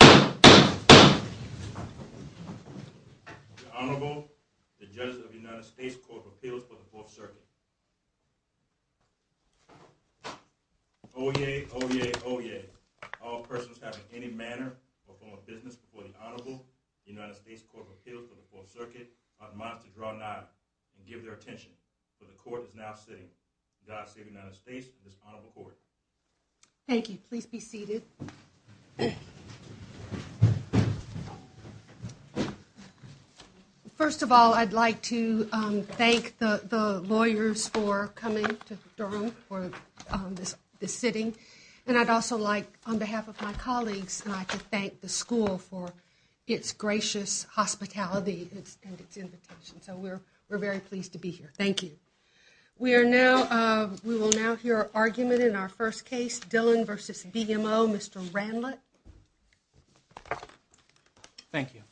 The Honorable, the Judges of the United States Court of Appeals for the Fourth Circuit. Oyez! Oyez! Oyez! All persons having any manner or form of business before the Honorable United States Court of Appeals for the Fourth Circuit are admonished to draw an eye and give their attention, for the Court is now sitting. God save the United States and this Honorable Court. Thank you. Please be seated. First of all, I'd like to thank the lawyers for coming to Durham for this sitting. And I'd also like, on behalf of my colleagues, I'd like to thank the school for its gracious hospitality and its invitation. So we're very pleased to be here. Thank you. We are now, we will now hear argument in our first case, Dillon v. BMO. Mr. Ranlett. Thank you.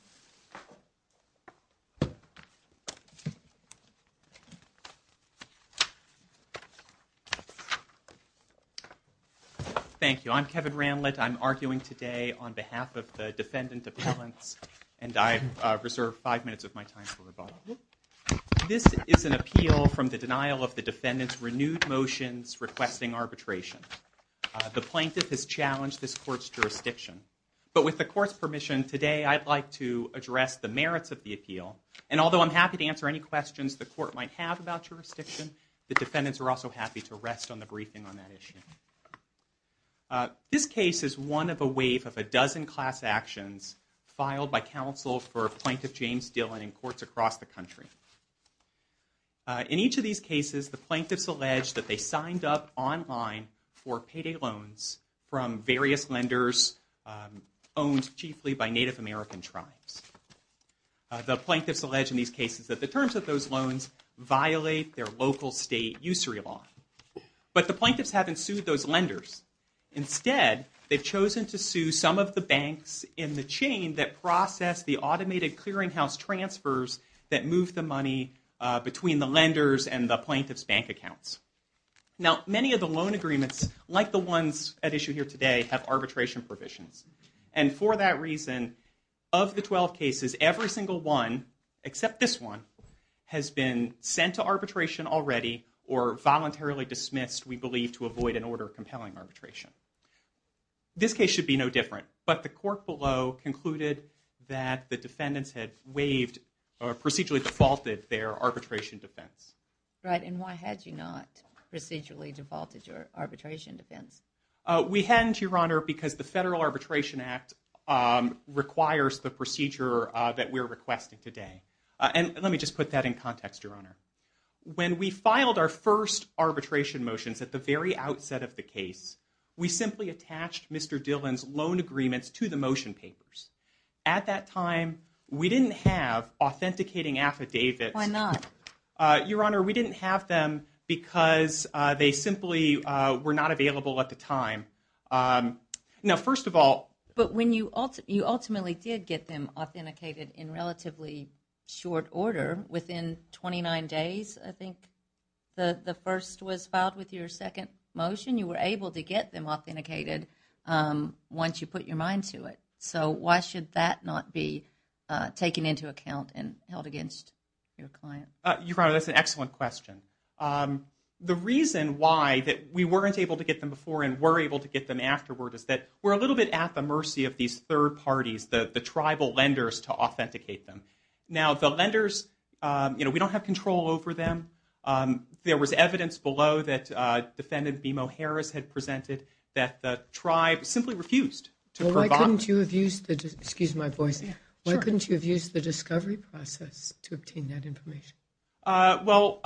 Thank you. I'm Kevin Ranlett. I'm arguing today on behalf of the defendant appellants. And I reserve five minutes of my time for rebuttal. This is an appeal from the denial of the defendant's renewed motions requesting arbitration. The plaintiff has challenged this court's jurisdiction. But with the court's permission today, I'd like to address the merits of the appeal. And although I'm happy to answer any questions the court might have about jurisdiction, the defendants are also happy to rest on the briefing on that issue. This case is one of a wave of a dozen class actions filed by counsel for Plaintiff James Dillon in courts across the country. In each of these cases, the plaintiffs allege that they signed up online for payday loans from various lenders owned chiefly by Native American tribes. The plaintiffs allege in these cases that the terms of those loans violate their local state usury law. But the plaintiffs haven't sued those lenders. Instead, they've chosen to sue some of the banks in the chain that process the automated clearinghouse transfers that move the money between the lenders and the plaintiff's bank accounts. Now, many of the loan agreements, like the ones at issue here today, have arbitration provisions. And for that reason, of the 12 cases, every single one, except this one, has been sent to arbitration already or voluntarily dismissed, we believe, to avoid an order of compelling arbitration. This case should be no different. But the court below concluded that the defendants had waived or procedurally defaulted their arbitration defense. Right. And why had you not procedurally defaulted your arbitration defense? We hadn't, Your Honor, because the Federal Arbitration Act requires the procedure that we're requesting today. And let me just put that in context, Your Honor. When we filed our first arbitration motions at the very outset of the case, we simply attached Mr. Dillon's loan agreements to the motion papers. At that time, we didn't have authenticating affidavits. Why not? Your Honor, we didn't have them because they simply were not available at the time. Now, first of all. But when you ultimately did get them authenticated in relatively short order, within 29 days, I think, the first was filed with your second motion, you were able to get them authenticated once you put your mind to it. So why should that not be taken into account and held against your client? Your Honor, that's an excellent question. The reason why that we weren't able to get them before and were able to get them afterward is that we're a little bit at the mercy of these third parties, the tribal lenders, to authenticate them. Now, the lenders, you know, we don't have control over them. There was evidence below that Defendant BMO Harris had presented that the tribe simply refused to provide. Well, why couldn't you have used the discovery process to obtain that information? Well,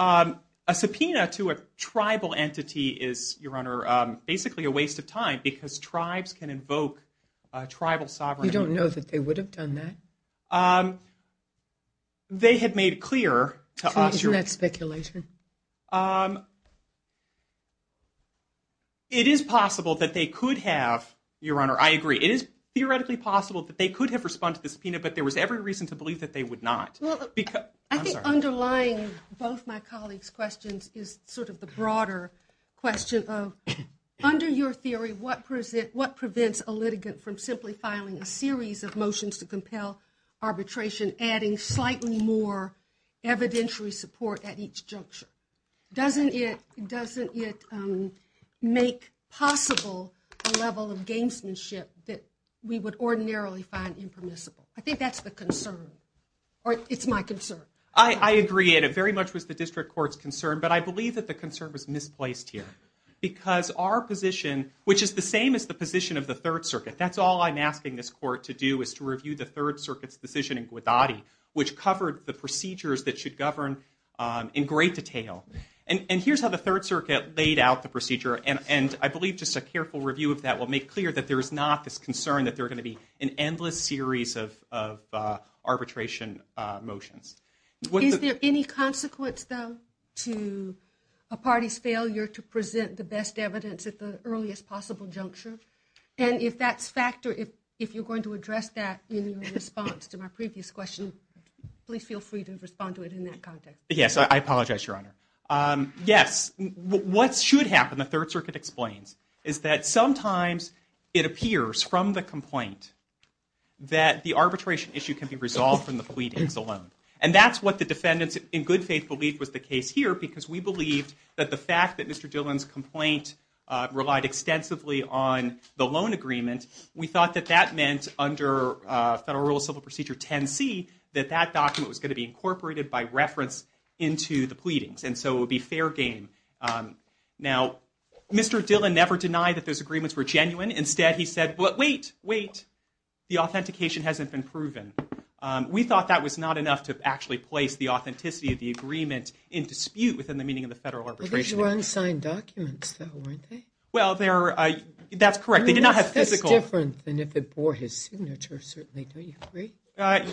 a subpoena to a tribal entity is, Your Honor, basically a waste of time because tribes can invoke tribal sovereignty. You don't know that they would have done that? They had made clear to us. Isn't that speculation? It is possible that they could have, Your Honor, I agree. It is theoretically possible that they could have responded to the subpoena, but there was every reason to believe that they would not. I think underlying both my colleagues' questions is sort of the broader question of, under your theory, what prevents a litigant from simply filing a series of motions to compel arbitration, adding slightly more evidentiary support at each juncture? Doesn't it make possible a level of gamesmanship that we would ordinarily find impermissible? I think that's the concern, or it's my concern. I agree, and it very much was the District Court's concern, but I believe that the concern was misplaced here because our position, which is the same as the position of the Third Circuit, that's all I'm asking this Court to do is to review the Third Circuit's decision in Guadadi, which covered the procedures that should govern in great detail. And here's how the Third Circuit laid out the procedure, and I believe just a careful review of that will make clear that there is not this concern that there are going to be an endless series of arbitration motions. Is there any consequence, though, to a party's failure to present the best evidence at the earliest possible juncture? And if that's factor, if you're going to address that in response to my previous question, please feel free to respond to it in that context. Yes, I apologize, Your Honor. Yes, what should happen, the Third Circuit explains, is that sometimes it appears from the complaint that the arbitration issue can be resolved from the pleadings alone. And that's what the defendants in good faith believe was the case here because we believed that the fact that Mr. Dillon's complaint relied extensively on the loan agreement, we thought that that meant under Federal Rule of Civil Procedure 10C that that document was going to be incorporated by reference into the pleadings, and so it would be fair game. Now, Mr. Dillon never denied that those agreements were genuine. Instead, he said, wait, wait, the authentication hasn't been proven. We thought that was not enough to actually place the authenticity of the agreement in dispute within the meaning of the Federal Arbitration Act. These were unsigned documents, though, weren't they? Well, that's correct. They did not have physical. That's different than if it bore his signature, certainly, don't you agree?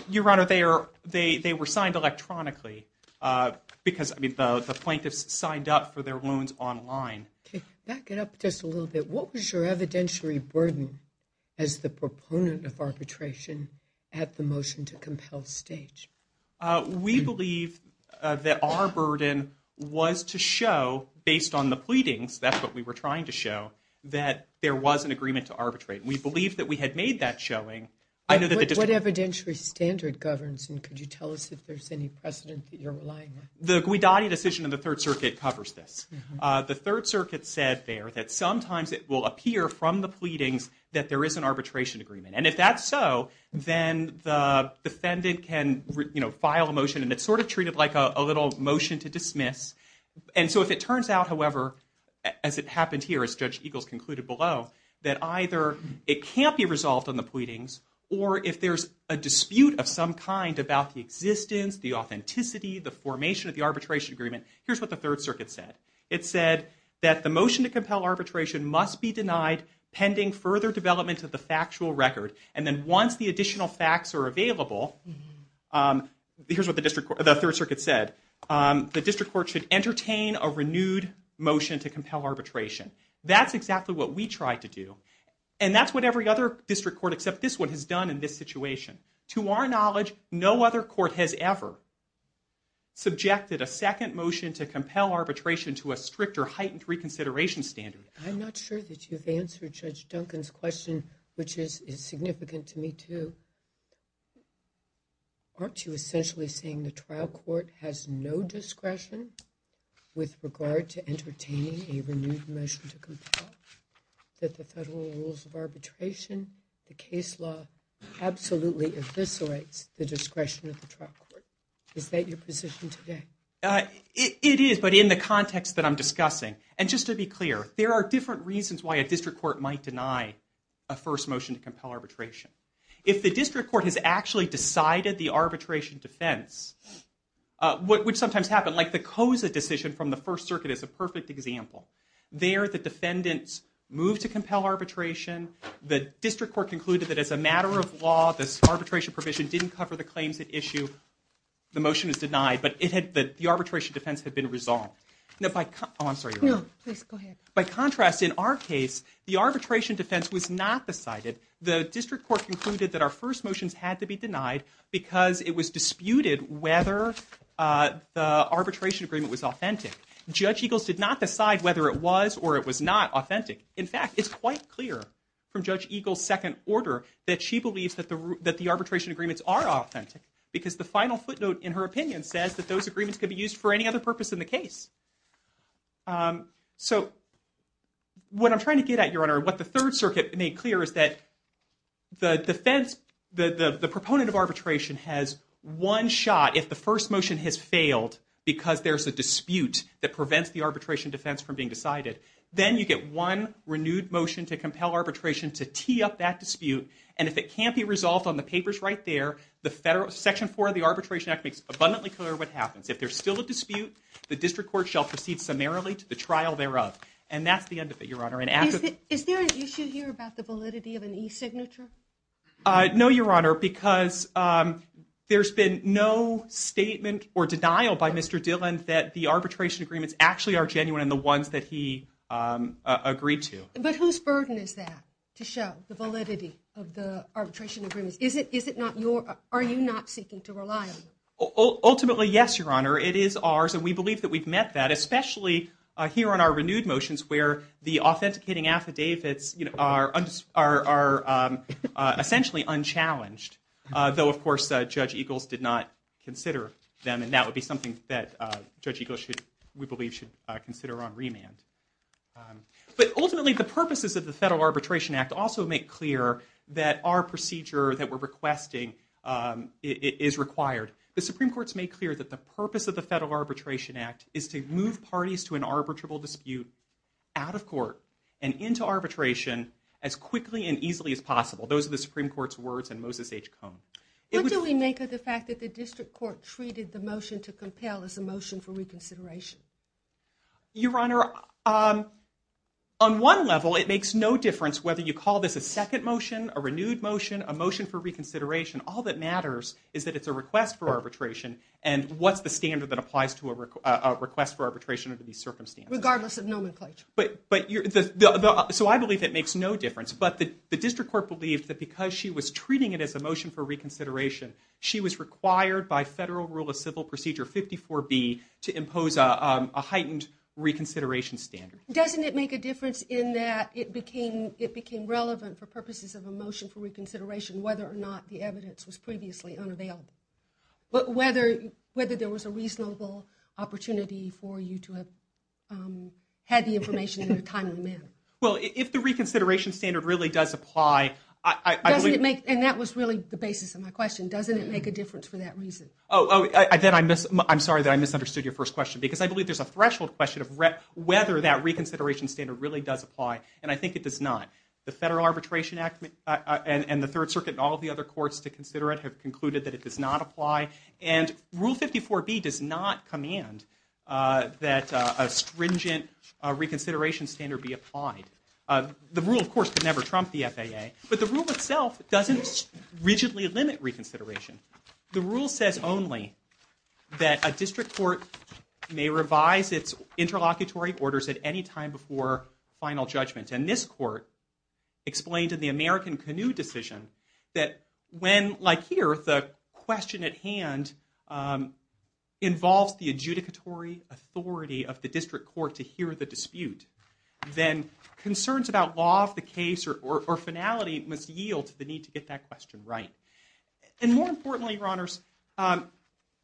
Your Honor, they were signed electronically because the plaintiffs signed up for their loans online. Back it up just a little bit. What was your evidentiary burden as the proponent of arbitration at the motion to compel stage? We believe that our burden was to show, based on the pleadings, that's what we were trying to show, that there was an agreement to arbitrate. We believe that we had made that showing. What evidentiary standard governs, and could you tell us if there's any precedent that you're relying on? The Guidotti decision in the Third Circuit covers this. The Third Circuit said there that sometimes it will appear from the pleadings that there is an arbitration agreement. And if that's so, then the defendant can file a motion, and it's sort of treated like a little motion to dismiss. And so if it turns out, however, as it happened here, as Judge Eagles concluded below, that either it can't be resolved on the pleadings, or if there's a dispute of some kind about the existence, the authenticity, the formation of the arbitration agreement, here's what the Third Circuit said. It said that the motion to compel arbitration must be denied pending further development of the factual record. And then once the additional facts are available, here's what the Third Circuit said. The district court should entertain a renewed motion to compel arbitration. That's exactly what we tried to do. And that's what every other district court except this one has done in this situation. To our knowledge, no other court has ever subjected a second motion to compel arbitration to a strict or heightened reconsideration standard. I'm not sure that you've answered Judge Duncan's question, which is significant to me, too. Aren't you essentially saying the trial court has no discretion with regard to entertaining a renewed motion to compel? That the federal rules of arbitration, the case law, absolutely eviscerates the discretion of the trial court. Is that your position today? It is, but in the context that I'm discussing. And just to be clear, there are different reasons why a district court might deny a first motion to compel arbitration. If the district court has actually decided the arbitration defense, which sometimes happens, like the COSA decision from the First Circuit is a perfect example. There, the defendants moved to compel arbitration. The district court concluded that as a matter of law, this arbitration provision didn't cover the claims at issue. The motion is denied, but the arbitration defense had been resolved. By contrast, in our case, the arbitration defense was not decided. The district court concluded that our first motions had to be denied because it was disputed whether the arbitration agreement was authentic. Judge Eagles did not decide whether it was or it was not authentic. In fact, it's quite clear from Judge Eagles' second order that she believes that the arbitration agreements are authentic. Because the final footnote in her opinion says that those agreements could be used for any other purpose in the case. So what I'm trying to get at, Your Honor, what the Third Circuit made clear is that the defense, the proponent of arbitration has one shot if the first motion has failed because there's a dispute that prevents the arbitration defense from being decided. Then you get one renewed motion to compel arbitration to tee up that dispute. And if it can't be resolved on the papers right there, the section four of the Arbitration Act makes abundantly clear what happens. If there's still a dispute, the district court shall proceed summarily to the trial thereof. And that's the end of it, Your Honor. Is there an issue here about the validity of an e-signature? No, Your Honor, because there's been no statement or denial by Mr. Dillon that the arbitration agreements actually are genuine and the ones that he agreed to. But whose burden is that to show the validity of the arbitration agreements? Are you not seeking to rely on them? Ultimately, yes, Your Honor. It is ours, and we believe that we've met that, especially here on our renewed motions where the authenticating affidavits are essentially unchallenged. Though, of course, Judge Eagles did not consider them, and that would be something that Judge Eagles, we believe, should consider on remand. But ultimately, the purposes of the Federal Arbitration Act also make clear that our procedure that we're requesting is required. The Supreme Court's made clear that the purpose of the Federal Arbitration Act is to move parties to an arbitrable dispute out of court and into arbitration as quickly and easily as possible. Those are the Supreme Court's words and Moses H. Cone. What do we make of the fact that the district court treated the motion to compel as a motion for reconsideration? Your Honor, on one level, it makes no difference whether you call this a second motion, a renewed motion, a motion for reconsideration. All that matters is that it's a request for arbitration, and what's the standard that applies to a request for arbitration under these circumstances? Regardless of nomenclature. So I believe it makes no difference, but the district court believed that because she was treating it as a motion for reconsideration, she was required by Federal Rule of Civil Procedure 54B to impose a heightened reconsideration standard. Doesn't it make a difference in that it became relevant for purposes of a motion for reconsideration whether or not the evidence was previously unavailable? Whether there was a reasonable opportunity for you to have had the information in a timely manner. Well, if the reconsideration standard really does apply, I believe... And that was really the basis of my question. Doesn't it make a difference for that reason? Oh, I'm sorry that I misunderstood your first question because I believe there's a threshold question of whether that reconsideration standard really does apply, and I think it does not. The Federal Arbitration Act and the Third Circuit and all the other courts to consider it have concluded that it does not apply, and Rule 54B does not command that a stringent reconsideration standard be applied. The rule, of course, could never trump the FAA, but the rule itself doesn't rigidly limit reconsideration. The rule says only that a district court may revise its interlocutory orders at any time before final judgment, and this court explained in the American Canoe decision that when, like here, the question at hand involves the adjudicatory authority of the district court to hear the dispute, then concerns about law of the case or finality must yield to the need to get that question right. And more importantly, Your Honors,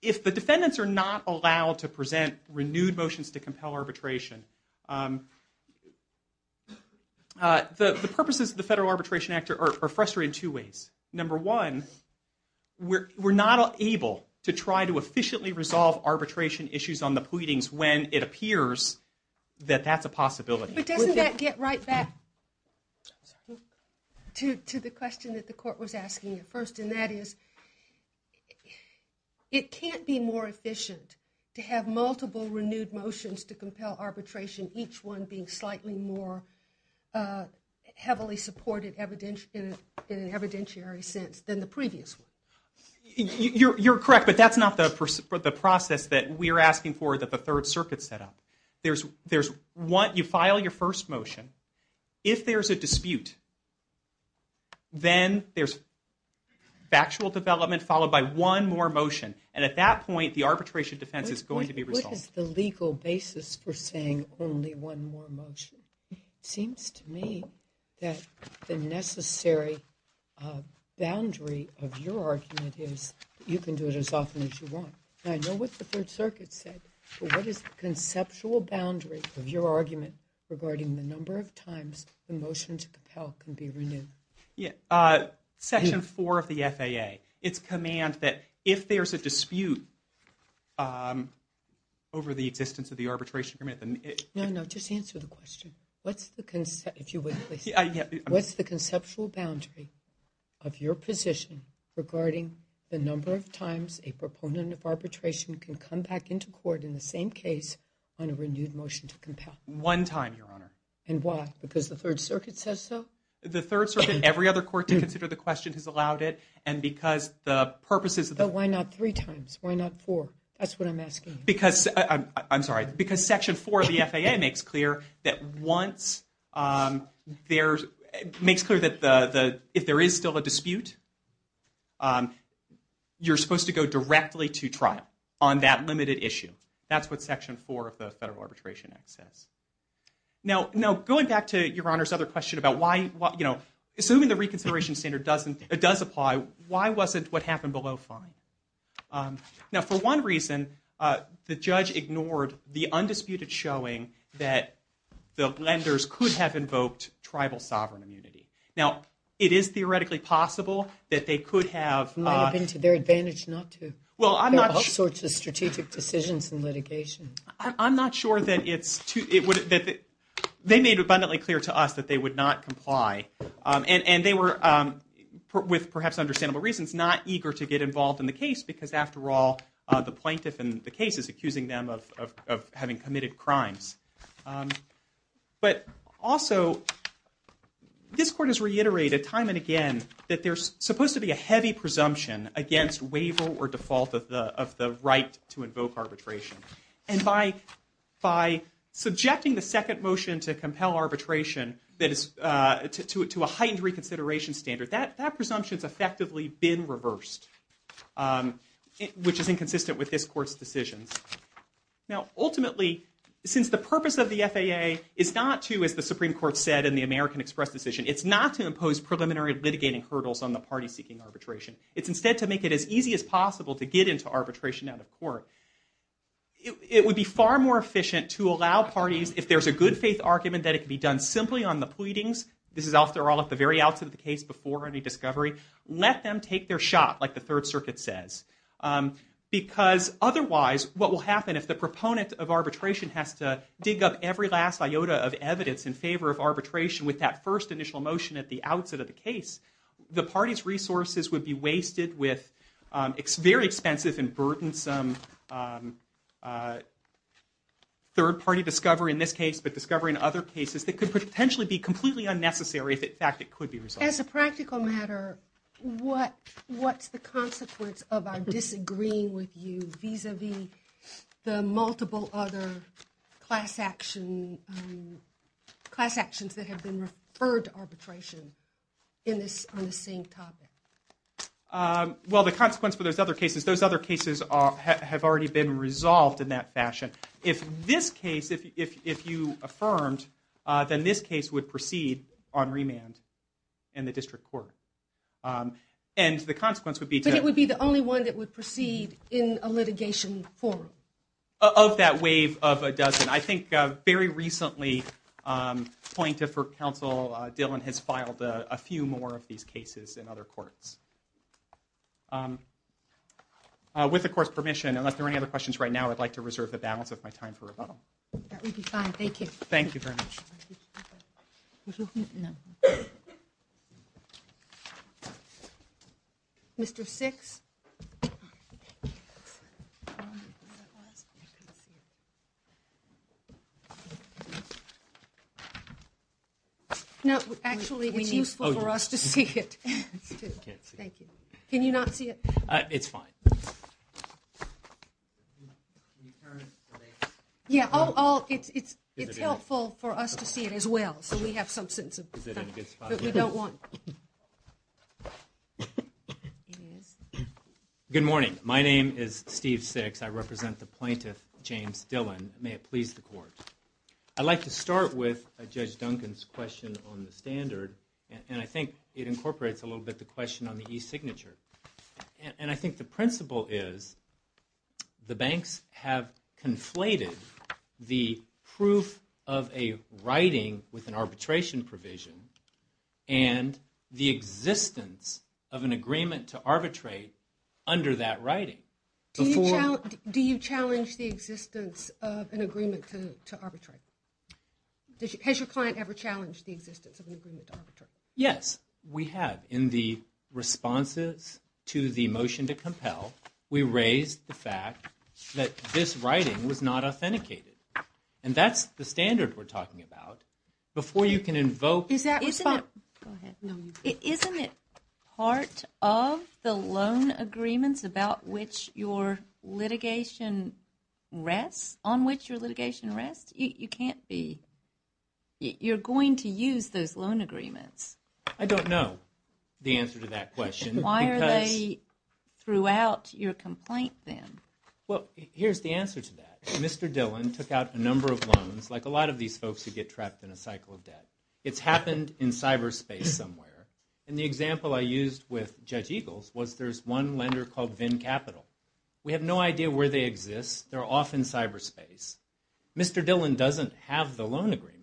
if the defendants are not allowed to present renewed motions to compel arbitration, the purposes of the Federal Arbitration Act are frustrating in two ways. Number one, we're not able to try to efficiently resolve arbitration issues on the pleadings when it appears that that's a possibility. But doesn't that get right back to the question that the court was asking at first, and that is it can't be more efficient to have multiple renewed motions to compel arbitration, each one being slightly more heavily supported in an evidentiary sense than the previous one. You're correct, but that's not the process that we're asking for that the Third Circuit set up. You file your first motion. If there's a dispute, then there's factual development followed by one more motion. And at that point, the arbitration defense is going to be resolved. What is the legal basis for saying only one more motion? It seems to me that the necessary boundary of your argument is you can do it as often as you want. I know what the Third Circuit said, but what is the conceptual boundary of your argument regarding the number of times the motion to compel can be renewed? Section 4 of the FAA. It's command that if there's a dispute over the existence of the arbitration agreement. No, no, just answer the question. If you would, please. What's the conceptual boundary of your position regarding the number of times a proponent of arbitration can come back into court in the same case on a renewed motion to compel? One time, Your Honor. And why? Because the Third Circuit says so? The Third Circuit and every other court to consider the question has allowed it, and because the purposes of the— But why not three times? Why not four? That's what I'm asking. I'm sorry, because Section 4 of the FAA makes clear that once there's— makes clear that if there is still a dispute, you're supposed to go directly to trial on that limited issue. That's what Section 4 of the Federal Arbitration Act says. Now, going back to Your Honor's other question about why, you know, assuming the reconsideration standard does apply, why wasn't what happened below fine? Now, for one reason, the judge ignored the undisputed showing that the lenders could have invoked tribal sovereign immunity. Now, it is theoretically possible that they could have— Might have been to their advantage not to. Well, I'm not— There are all sorts of strategic decisions in litigation. I'm not sure that it's—they made abundantly clear to us that they would not comply, and they were, with perhaps understandable reasons, not eager to get involved in the case, because after all, the plaintiff in the case is accusing them of having committed crimes. But also, this Court has reiterated time and again that there's supposed to be a heavy presumption against waiver or default of the right to invoke arbitration, and by subjecting the second motion to compel arbitration to a heightened reconsideration standard, that presumption's effectively been reversed, which is inconsistent with this Court's decisions. Now, ultimately, since the purpose of the FAA is not to, as the Supreme Court said in the American Express decision, it's not to impose preliminary litigating hurdles on the party seeking arbitration. It's instead to make it as easy as possible to get into arbitration out of court. It would be far more efficient to allow parties, if there's a good faith argument that it can be done simply on the pleadings— this is after all at the very outset of the case before any discovery— let them take their shot, like the Third Circuit says. Because otherwise, what will happen if the proponent of arbitration has to dig up every last iota of evidence in favor of arbitration with that first initial motion at the outset of the case, the party's resources would be wasted with very expensive and burdensome third-party discovery in this case, but discovery in other cases that could potentially be completely unnecessary if, in fact, it could be resolved. As a practical matter, what's the consequence of our disagreeing with you the multiple other class actions that have been referred to arbitration on the same topic? Well, the consequence for those other cases, those other cases have already been resolved in that fashion. If this case, if you affirmed, then this case would proceed on remand in the district court. And the consequence would be to— But it would be the only one that would proceed in a litigation forum. Of that wave of a dozen. I think very recently, point for counsel, Dillon has filed a few more of these cases in other courts. With the court's permission, unless there are any other questions right now, I'd like to reserve the balance of my time for rebuttal. That would be fine. Thank you. Thank you very much. Mr. Six. No, actually, it's useful for us to see it. Thank you. Can you not see it? It's fine. Yeah, it's helpful for us to see it as well, so we have some sense of it. But we don't want— Good morning. My name is Steve Six. I represent the plaintiff, James Dillon. May it please the court. I'd like to start with Judge Duncan's question on the standard. And I think it incorporates a little bit the question on the e-signature. And I think the principle is the banks have conflated the proof of a writing with an arbitration provision and the existence of an agreement to arbitrate under that writing. Do you challenge the existence of an agreement to arbitrate? Has your client ever challenged the existence of an agreement to arbitrate? Yes, we have. In the responses to the motion to compel, we raised the fact that this writing was not authenticated. And that's the standard we're talking about. Before you can invoke— Is that— Go ahead. Isn't it part of the loan agreements about which your litigation rests, on which your litigation rests? You can't be— You're going to use those loan agreements. I don't know the answer to that question. Why are they throughout your complaint, then? Well, here's the answer to that. Mr. Dillon took out a number of loans, like a lot of these folks who get trapped in a cycle of debt. It's happened in cyberspace somewhere. And the example I used with Judge Eagles was there's one lender called Venn Capital. We have no idea where they exist. They're off in cyberspace. Mr. Dillon doesn't have the loan agreement.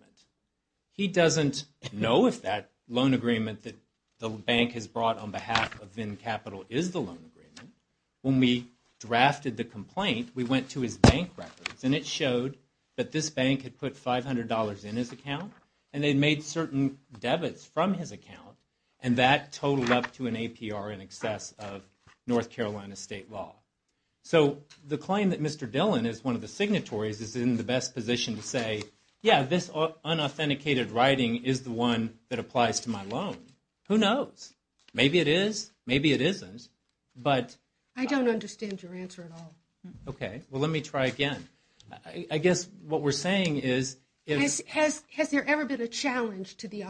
He doesn't know if that loan agreement that the bank has brought on behalf of Venn Capital is the loan agreement. When we drafted the complaint, we went to his bank records, and it showed that this bank had put $500 in his account. And they made certain debits from his account. And that totaled up to an APR in excess of North Carolina state law. So the claim that Mr. Dillon is one of the signatories is in the best position to say, yeah, this unauthenticated writing is the one that applies to my loan. Who knows? Maybe it is. Maybe it isn't. I don't understand your answer at all. Okay. Well, let me try again. I guess what we're saying is – Has there ever been a challenge to the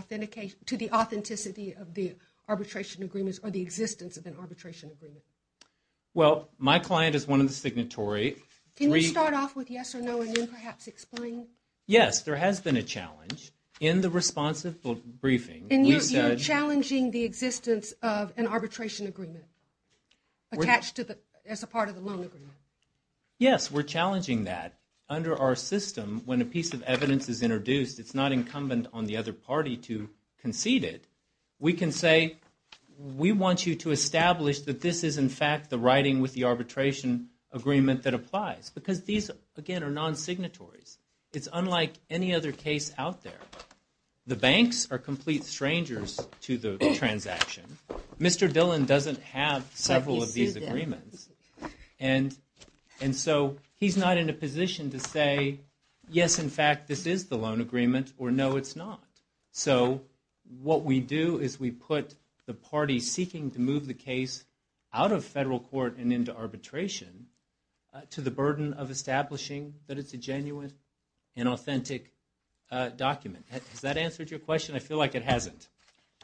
authenticity of the arbitration agreements or the existence of an arbitration agreement? Well, my client is one of the signatory. Can you start off with yes or no and then perhaps explain? Yes, there has been a challenge. In the responsive briefing, we said – And you're challenging the existence of an arbitration agreement attached to the – as a part of the loan agreement. Yes, we're challenging that. Under our system, when a piece of evidence is introduced, it's not incumbent on the other party to concede it. We can say we want you to establish that this is in fact the writing with the arbitration agreement that applies because these, again, are non-signatories. It's unlike any other case out there. The banks are complete strangers to the transaction. Mr. Dillon doesn't have several of these agreements. And so he's not in a position to say, yes, in fact, this is the loan agreement or no, it's not. So what we do is we put the party seeking to move the case out of federal court and into arbitration to the burden of establishing that it's a genuine and authentic document. Has that answered your question? I feel like it hasn't.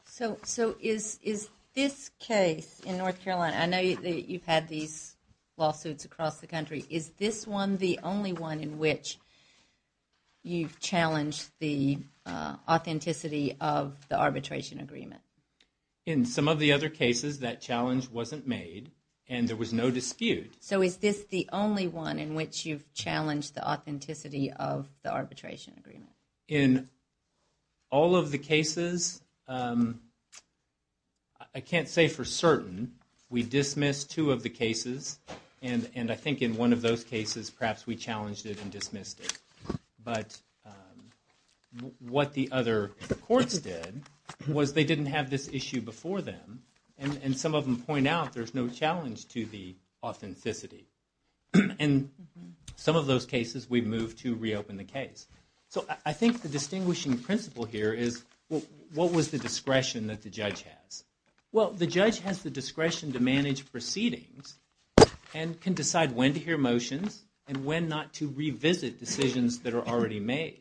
So is this case in North Carolina – I know you've had these lawsuits across the country. Is this one the only one in which you've challenged the authenticity of the arbitration agreement? In some of the other cases, that challenge wasn't made and there was no dispute. So is this the only one in which you've challenged the authenticity of the arbitration agreement? In all of the cases, I can't say for certain. We dismissed two of the cases, and I think in one of those cases, perhaps we challenged it and dismissed it. But what the other courts did was they didn't have this issue before them, and some of them point out there's no challenge to the authenticity. In some of those cases, we moved to reopen the case. So I think the distinguishing principle here is what was the discretion that the judge has? Well, the judge has the discretion to manage proceedings and can decide when to hear motions and when not to revisit decisions that are already made.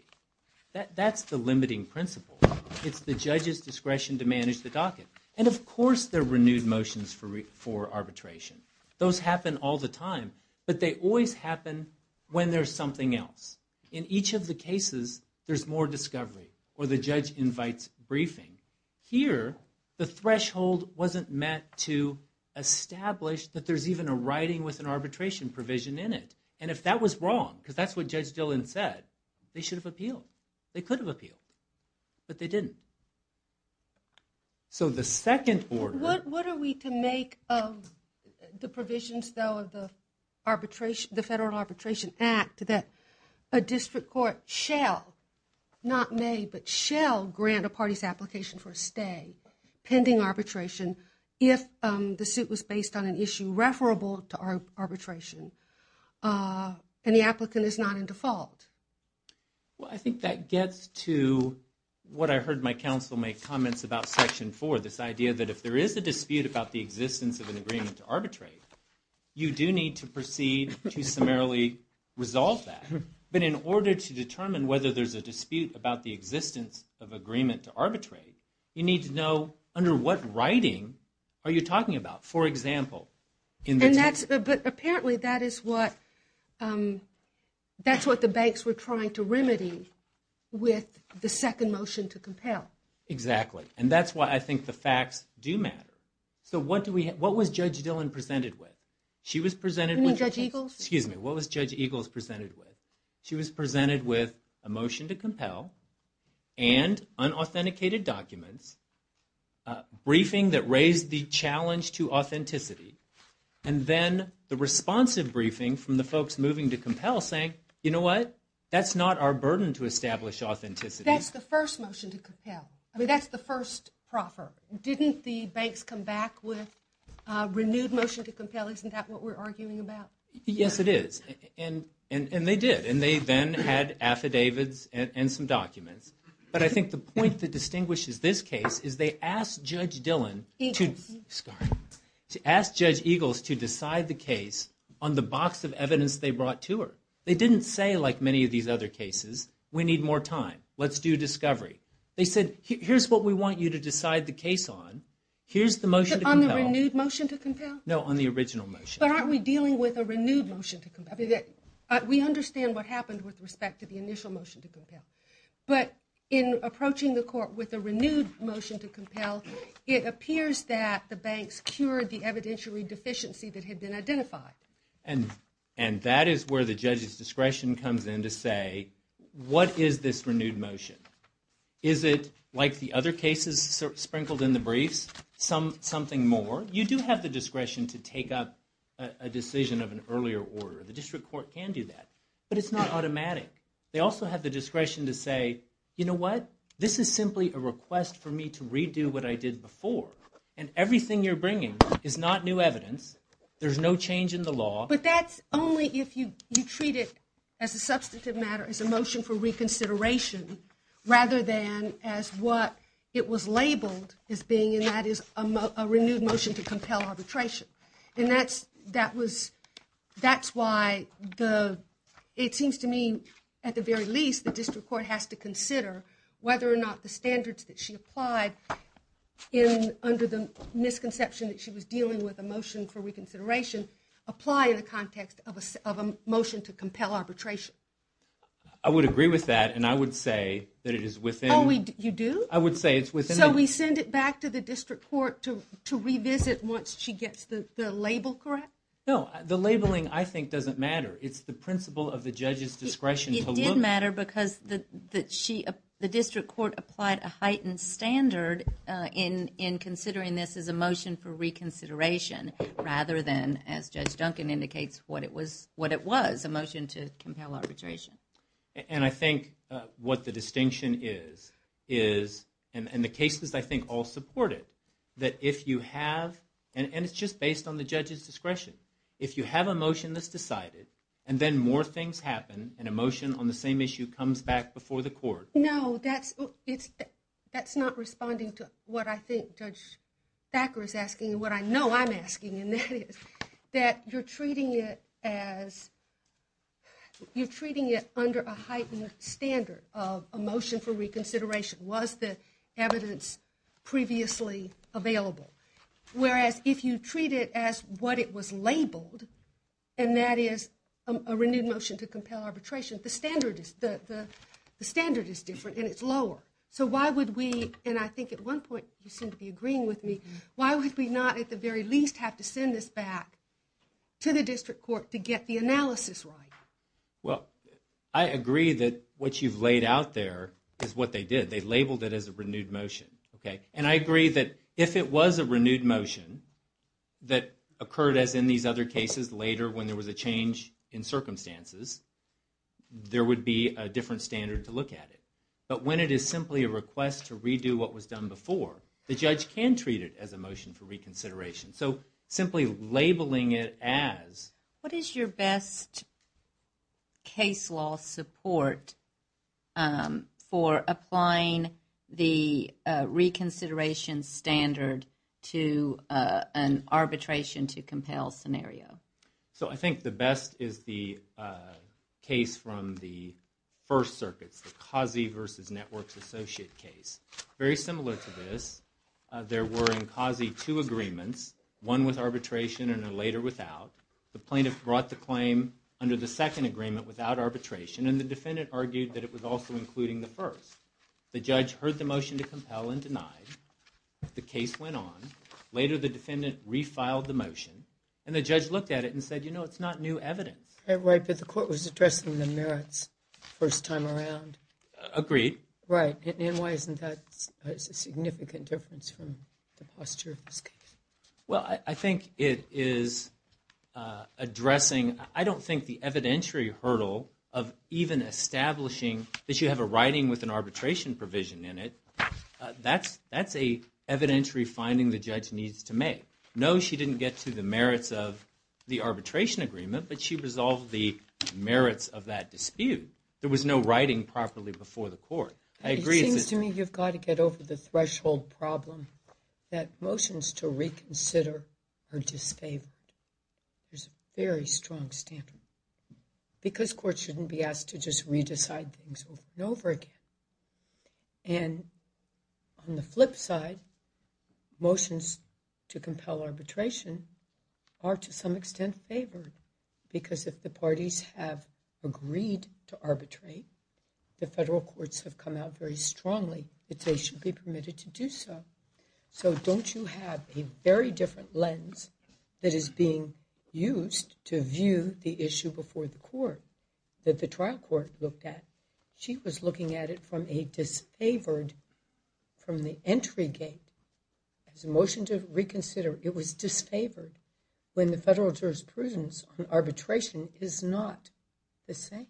That's the limiting principle. It's the judge's discretion to manage the docket. And of course there are renewed motions for arbitration. Those happen all the time, but they always happen when there's something else. In each of the cases, there's more discovery or the judge invites briefing. Here, the threshold wasn't met to establish that there's even a writing with an arbitration provision in it. And if that was wrong, because that's what Judge Dillon said, they should have appealed. They could have appealed, but they didn't. So the second order... What are we to make of the provisions, though, of the Federal Arbitration Act that a district court shall, not may, but shall grant a party's application for a stay pending arbitration if the suit was based on an issue referable to arbitration and the applicant is not in default? Well, I think that gets to what I heard my counsel make comments about Section 4, this idea that if there is a dispute about the existence of an agreement to arbitrate, you do need to proceed to summarily resolve that. But in order to determine whether there's a dispute about the existence of agreement to arbitrate, you need to know under what writing are you talking about. For example, in the... But apparently that is what the banks were trying to remedy with the second motion to compel. Exactly. And that's why I think the facts do matter. So what was Judge Dillon presented with? She was presented with... You mean Judge Eagles? Excuse me. What was Judge Eagles presented with? She was presented with a motion to compel and unauthenticated documents, briefing that raised the challenge to authenticity, and then the responsive briefing from the folks moving to compel saying, you know what, that's not our burden to establish authenticity. That's the first motion to compel. I mean, that's the first proffer. Didn't the banks come back with a renewed motion to compel? Isn't that what we're arguing about? Yes, it is. And they did. And they then had affidavits and some documents. But I think the point that distinguishes this case is they asked Judge Dillon to... Eagles. Sorry. Asked Judge Eagles to decide the case on the box of evidence they brought to her. They didn't say, like many of these other cases, we need more time, let's do discovery. They said, here's what we want you to decide the case on. Here's the motion to compel. On the renewed motion to compel? No, on the original motion. But aren't we dealing with a renewed motion to compel? We understand what happened with respect to the initial motion to compel. But in approaching the court with a renewed motion to compel, it appears that the banks cured the evidentiary deficiency that had been identified. And that is where the judge's discretion comes in to say, what is this renewed motion? Is it, like the other cases sprinkled in the briefs, something more? You do have the discretion to take up a decision of an earlier order. The district court can do that. But it's not automatic. They also have the discretion to say, you know what? This is simply a request for me to redo what I did before. And everything you're bringing is not new evidence. There's no change in the law. But that's only if you treat it as a substantive matter, as a motion for reconsideration, rather than as what it was labeled as being, and that is a renewed motion to compel arbitration. And that's why it seems to me, at the very least, the district court has to consider whether or not the standards that she applied under the misconception that she was dealing with a motion for reconsideration, apply in the context of a motion to compel arbitration. I would agree with that, and I would say that it is within... Oh, you do? I would say it's within... So we send it back to the district court to revisit once she gets the label correct? No, the labeling, I think, doesn't matter. It's the principle of the judge's discretion to look... It did matter because the district court applied a heightened standard in considering this as a motion for reconsideration, rather than, as Judge Duncan indicates, what it was, a motion to compel arbitration. And I think what the distinction is, and the cases, I think, all support it, that if you have, and it's just based on the judge's discretion, if you have a motion that's decided, and then more things happen, and a motion on the same issue comes back before the court... No, that's not responding to what I think Judge Thacker is asking, and what I know I'm asking, and that is that you're treating it as... You're treating it under a heightened standard of a motion for reconsideration. Was the evidence previously available? Whereas if you treat it as what it was labeled, and that is a renewed motion to compel arbitration, the standard is different, and it's lower. So why would we, and I think at one point you seem to be agreeing with me, why would we not at the very least have to send this back to the district court to get the analysis right? Well, I agree that what you've laid out there is what they did. They labeled it as a renewed motion, okay? And I agree that if it was a renewed motion that occurred as in these other cases later when there was a change in circumstances, there would be a different standard to look at it. But when it is simply a request to redo what was done before, the judge can treat it as a motion for reconsideration. So simply labeling it as... What is your best case law support for applying the reconsideration standard to an arbitration to compel scenario? So I think the best is the case from the first circuits, the Causey versus Networks Associate case. Very similar to this, there were in Causey two agreements, one with arbitration and a later without. The plaintiff brought the claim under the second agreement without arbitration, and the defendant argued that it was also including the first. The judge heard the motion to compel and denied. The case went on. Later the defendant refiled the motion, and the judge looked at it and said, you know, it's not new evidence. Right, but the court was addressing the merits first time around. Agreed. Right, and why isn't that a significant difference from the posture of this case? Well, I think it is addressing... I don't think the evidentiary hurdle of even establishing that you have a writing with an arbitration provision in it, that's an evidentiary finding the judge needs to make. No, she didn't get to the merits of the arbitration agreement, but she resolved the merits of that dispute. There was no writing properly before the court. It seems to me you've got to get over the threshold problem that motions to reconsider are disfavored. There's a very strong standard. Because courts shouldn't be asked to just re-decide things over and over again. And on the flip side, motions to compel arbitration are to some extent favored. Because if the parties have agreed to arbitrate, the federal courts have come out very strongly that they should be permitted to do so. So don't you have a very different lens that is being used to view the issue before the court that the trial court looked at? She was looking at it from a disfavored, from the entry gate. As a motion to reconsider, it was disfavored when the federal jurisprudence on arbitration is not the same.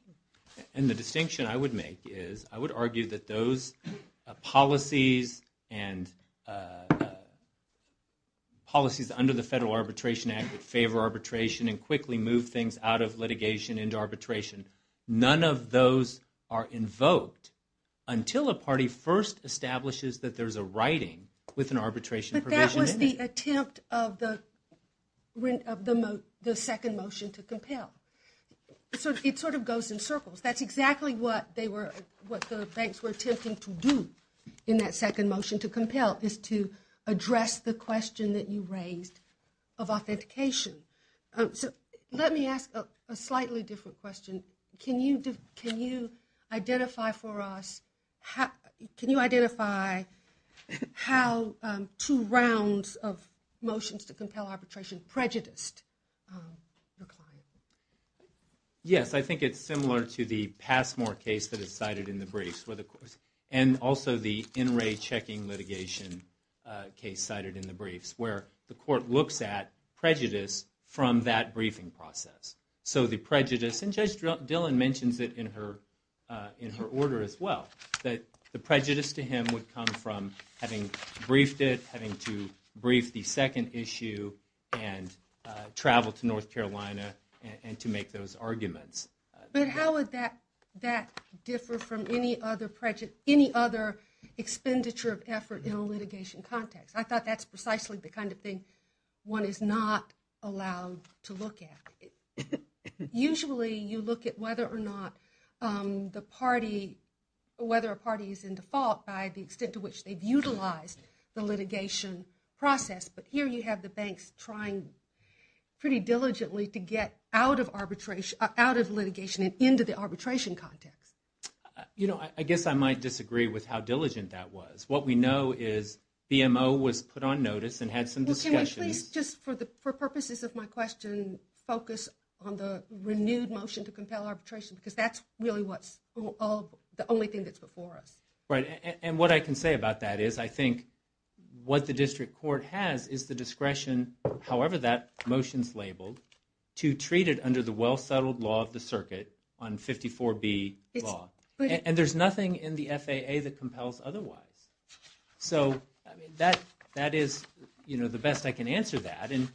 And the distinction I would make is, I would argue that those policies and policies under the Federal Arbitration Act would favor arbitration and quickly move things out of litigation into arbitration. None of those are invoked until a party first establishes that there's a writing with an arbitration provision. But that was the attempt of the second motion to compel. It sort of goes in circles. That's exactly what the banks were attempting to do in that second motion to compel, is to address the question that you raised of authentication. Let me ask a slightly different question. Can you identify for us, can you identify how two rounds of motions to compel arbitration prejudiced your client? Yes, I think it's similar to the Passmore case that is cited in the briefs, and also the in-ray checking litigation case cited in the briefs, where the court looks at prejudice from that briefing process. So the prejudice, and Judge Dillon mentions it in her order as well, that the prejudice to him would come from having briefed it, having to brief the second issue, and travel to North Carolina and to make those arguments. But how would that differ from any other expenditure of effort in a litigation context? I thought that's precisely the kind of thing one is not allowed to look at. Usually you look at whether or not the party, whether a party is in default by the extent to which they've utilized the litigation process. But here you have the banks trying pretty diligently to get out of litigation and into the arbitration context. I guess I might disagree with how diligent that was. What we know is BMO was put on notice and had some discussions. Well, can we please, just for purposes of my question, focus on the renewed motion to compel arbitration, because that's really the only thing that's before us. Right, and what I can say about that is, I think what the district court has is the discretion, however that motion's labeled, to treat it under the well-settled law of the circuit, on 54B law. And there's nothing in the FAA that compels otherwise. So that is the best I can answer that. And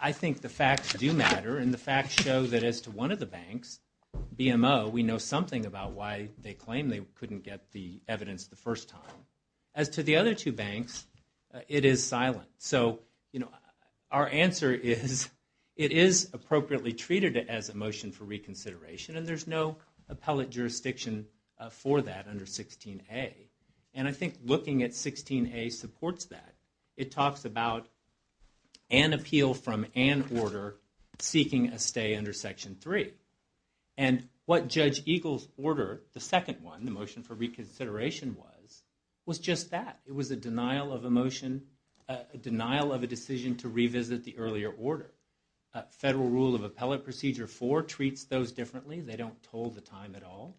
I think the facts do matter, and the facts show that as to one of the banks, BMO, we know something about why they claim they couldn't get the evidence the first time. As to the other two banks, it is silent. So our answer is it is appropriately treated as a motion for reconsideration, and there's no appellate jurisdiction for that under 16A. And I think looking at 16A supports that. It talks about an appeal from an order seeking a stay under Section 3. And what Judge Eagle's order, the second one, the motion for reconsideration was, was just that. It was a denial of a motion, a denial of a decision to revisit the earlier order. Federal Rule of Appellate Procedure 4 treats those differently. They don't toll the time at all.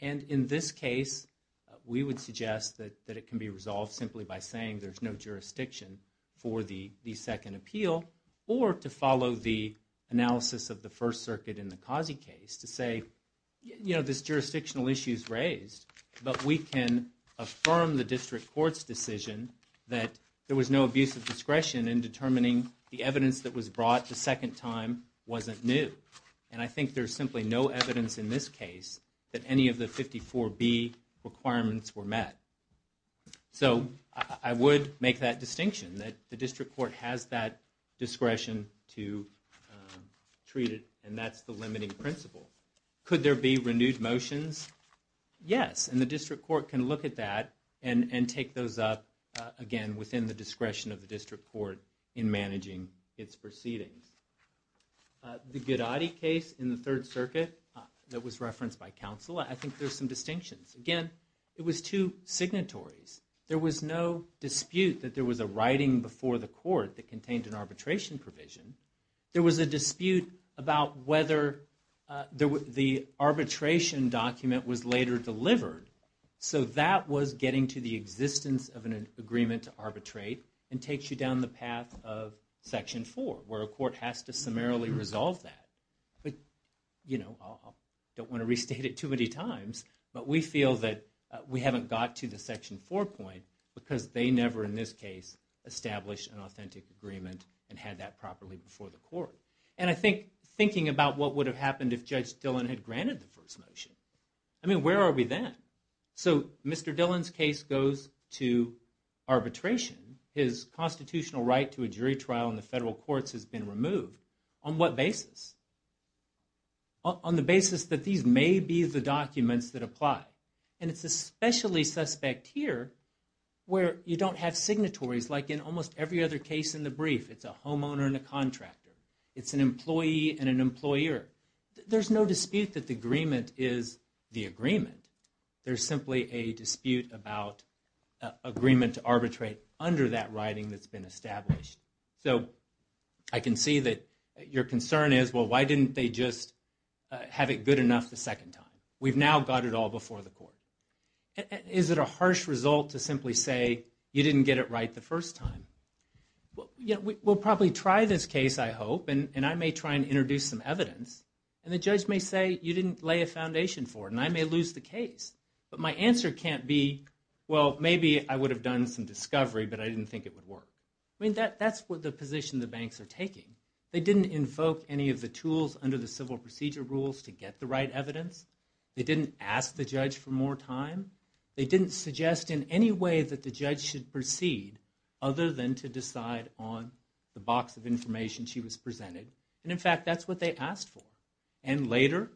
And in this case, we would suggest that it can be resolved simply by saying there's no jurisdiction for the second appeal, or to follow the analysis of the First Circuit in the Causey case to say, you know, this jurisdictional issue is raised, but we can affirm the district court's decision that there was no abuse of discretion in determining the evidence that was brought the second time wasn't new. And I think there's simply no evidence in this case that any of the 54B requirements were met. So I would make that distinction that the district court has that discretion to treat it, and that's the limiting principle. Could there be renewed motions? Yes, and the district court can look at that and take those up, again, within the discretion of the district court in managing its proceedings. The Gudadi case in the Third Circuit that was referenced by counsel, I think there's some distinctions. Again, it was two signatories. There was no dispute that there was a writing before the court that contained an arbitration provision. There was a dispute about whether the arbitration document was later delivered. So that was getting to the existence of an agreement to arbitrate and takes you down the path of Section 4, where a court has to summarily resolve that. I don't want to restate it too many times, but we feel that we haven't got to the Section 4 point because they never, in this case, established an authentic agreement and had that properly before the court. And I think, thinking about what would have happened if Judge Dillon had granted the first motion, I mean, where are we then? So Mr. Dillon's case goes to arbitration. His constitutional right to a jury trial in the federal courts has been removed. On what basis? On the basis that these may be the documents that apply. And it's especially suspect here where you don't have signatories like in almost every other case in the brief. It's a homeowner and a contractor. It's an employee and an employer. There's no dispute that the agreement is the agreement. There's simply a dispute about agreement to arbitrate under that writing that's been established. So I can see that your concern is, well, why didn't they just have it good enough the second time? We've now got it all before the court. Is it a harsh result to simply say, you didn't get it right the first time? We'll probably try this case, I hope, and I may try and introduce some evidence, and the judge may say, you didn't lay a foundation for it, and I may lose the case. But my answer can't be, well, maybe I would have done some discovery, but I didn't think it would work. I mean, that's the position the banks are taking. They didn't invoke any of the tools under the civil procedure rules to get the right evidence. They didn't ask the judge for more time. They didn't suggest in any way that the judge should proceed other than to decide on the box of information she was presented. And in fact, that's what they asked for. And later,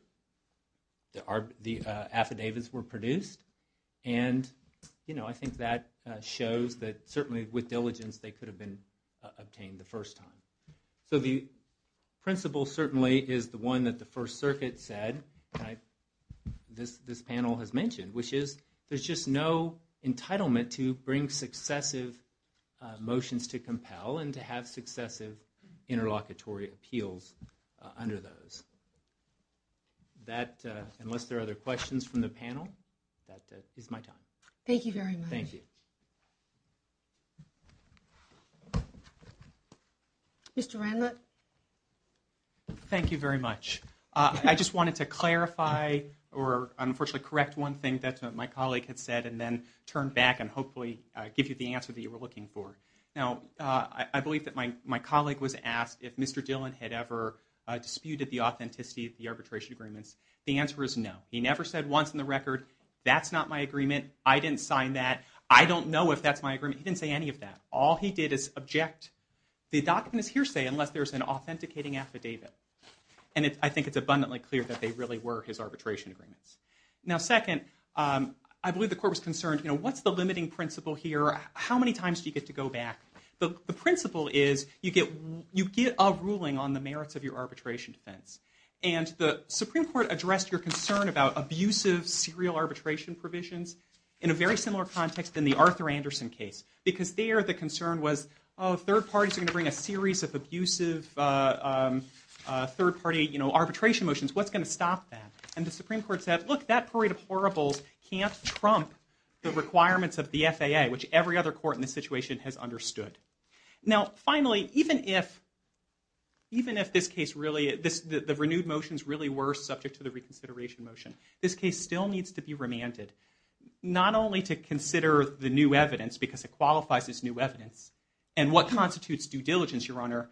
the affidavits were produced, and I think that shows that certainly with diligence they could have been obtained the first time. So the principle certainly is the one that the First Circuit said, this panel has mentioned, which is there's just no entitlement to bring successive motions to compel and to have successive interlocutory appeals under those. Unless there are other questions from the panel, that is my time. Thank you very much. Thank you. Mr. Randlett? Thank you very much. I just wanted to clarify or unfortunately correct one thing that my colleague had said and then turn back and hopefully give you the answer that you were looking for. Now, I believe that my colleague was asked if Mr. Dillon had ever disputed the authenticity of the arbitration agreements. The answer is no. He never said once in the record, that's not my agreement, I didn't sign that, I don't know if that's my agreement. He didn't say any of that. All he did is object. The document is hearsay unless there's an authenticating affidavit. And I think it's abundantly clear that they really were his arbitration agreements. Now, second, I believe the Court was concerned, what's the limiting principle here? How many times do you get to go back? The principle is you get a ruling on the merits of your arbitration defense. And the Supreme Court addressed your concern about abusive serial arbitration provisions in a very similar context in the Arthur Anderson case. Because there the concern was, third parties are going to bring a series of abusive third party arbitration motions, what's going to stop that? And the Supreme Court said, look, that parade of horribles can't trump the requirements of the FAA, which every other court in this situation has understood. Now, finally, even if this case really, the renewed motions really were subject to the reconsideration motion, this case still needs to be remanded. Not only to consider the new evidence, because it qualifies as new evidence, and what constitutes due diligence, Your Honor,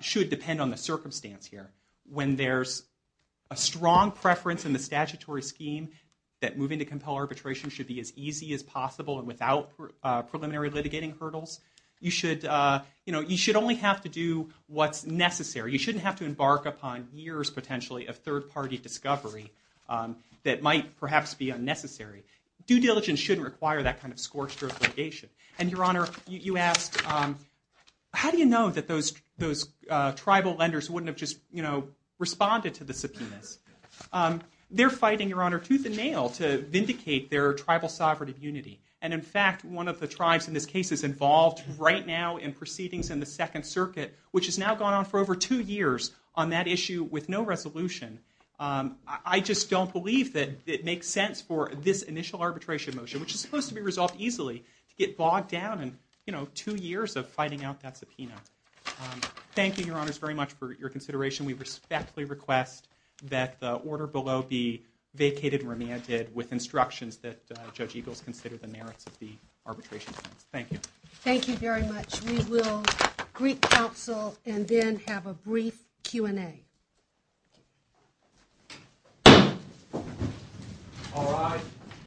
should depend on the circumstance here. When there's a strong preference in the statutory scheme that moving to compel arbitration should be as easy as possible and without preliminary litigating hurdles, you should only have to do what's necessary. You shouldn't have to embark upon years, potentially, of third party discovery that might perhaps be unnecessary. Due diligence shouldn't require that kind of scorched earth litigation. And, Your Honor, you asked, how do you know that those tribal lenders wouldn't have just responded to the subpoenas? They're fighting, Your Honor, tooth and nail to vindicate their tribal sovereign immunity. And, in fact, one of the tribes in this case is involved right now in proceedings in the Second Circuit, which has now gone on for over two years on that issue with no resolution. I just don't believe that it makes sense for this initial arbitration motion, which is supposed to be resolved easily, to get bogged down in, you know, two years of fighting out that subpoena. Thank you, Your Honors, very much for your consideration. We respectfully request that the order below be vacated and remanded with instructions that Judge Eagles consider the merits of the arbitration sentence. Thank you. Thank you very much. We will greet counsel and then have a brief Q&A. All rise.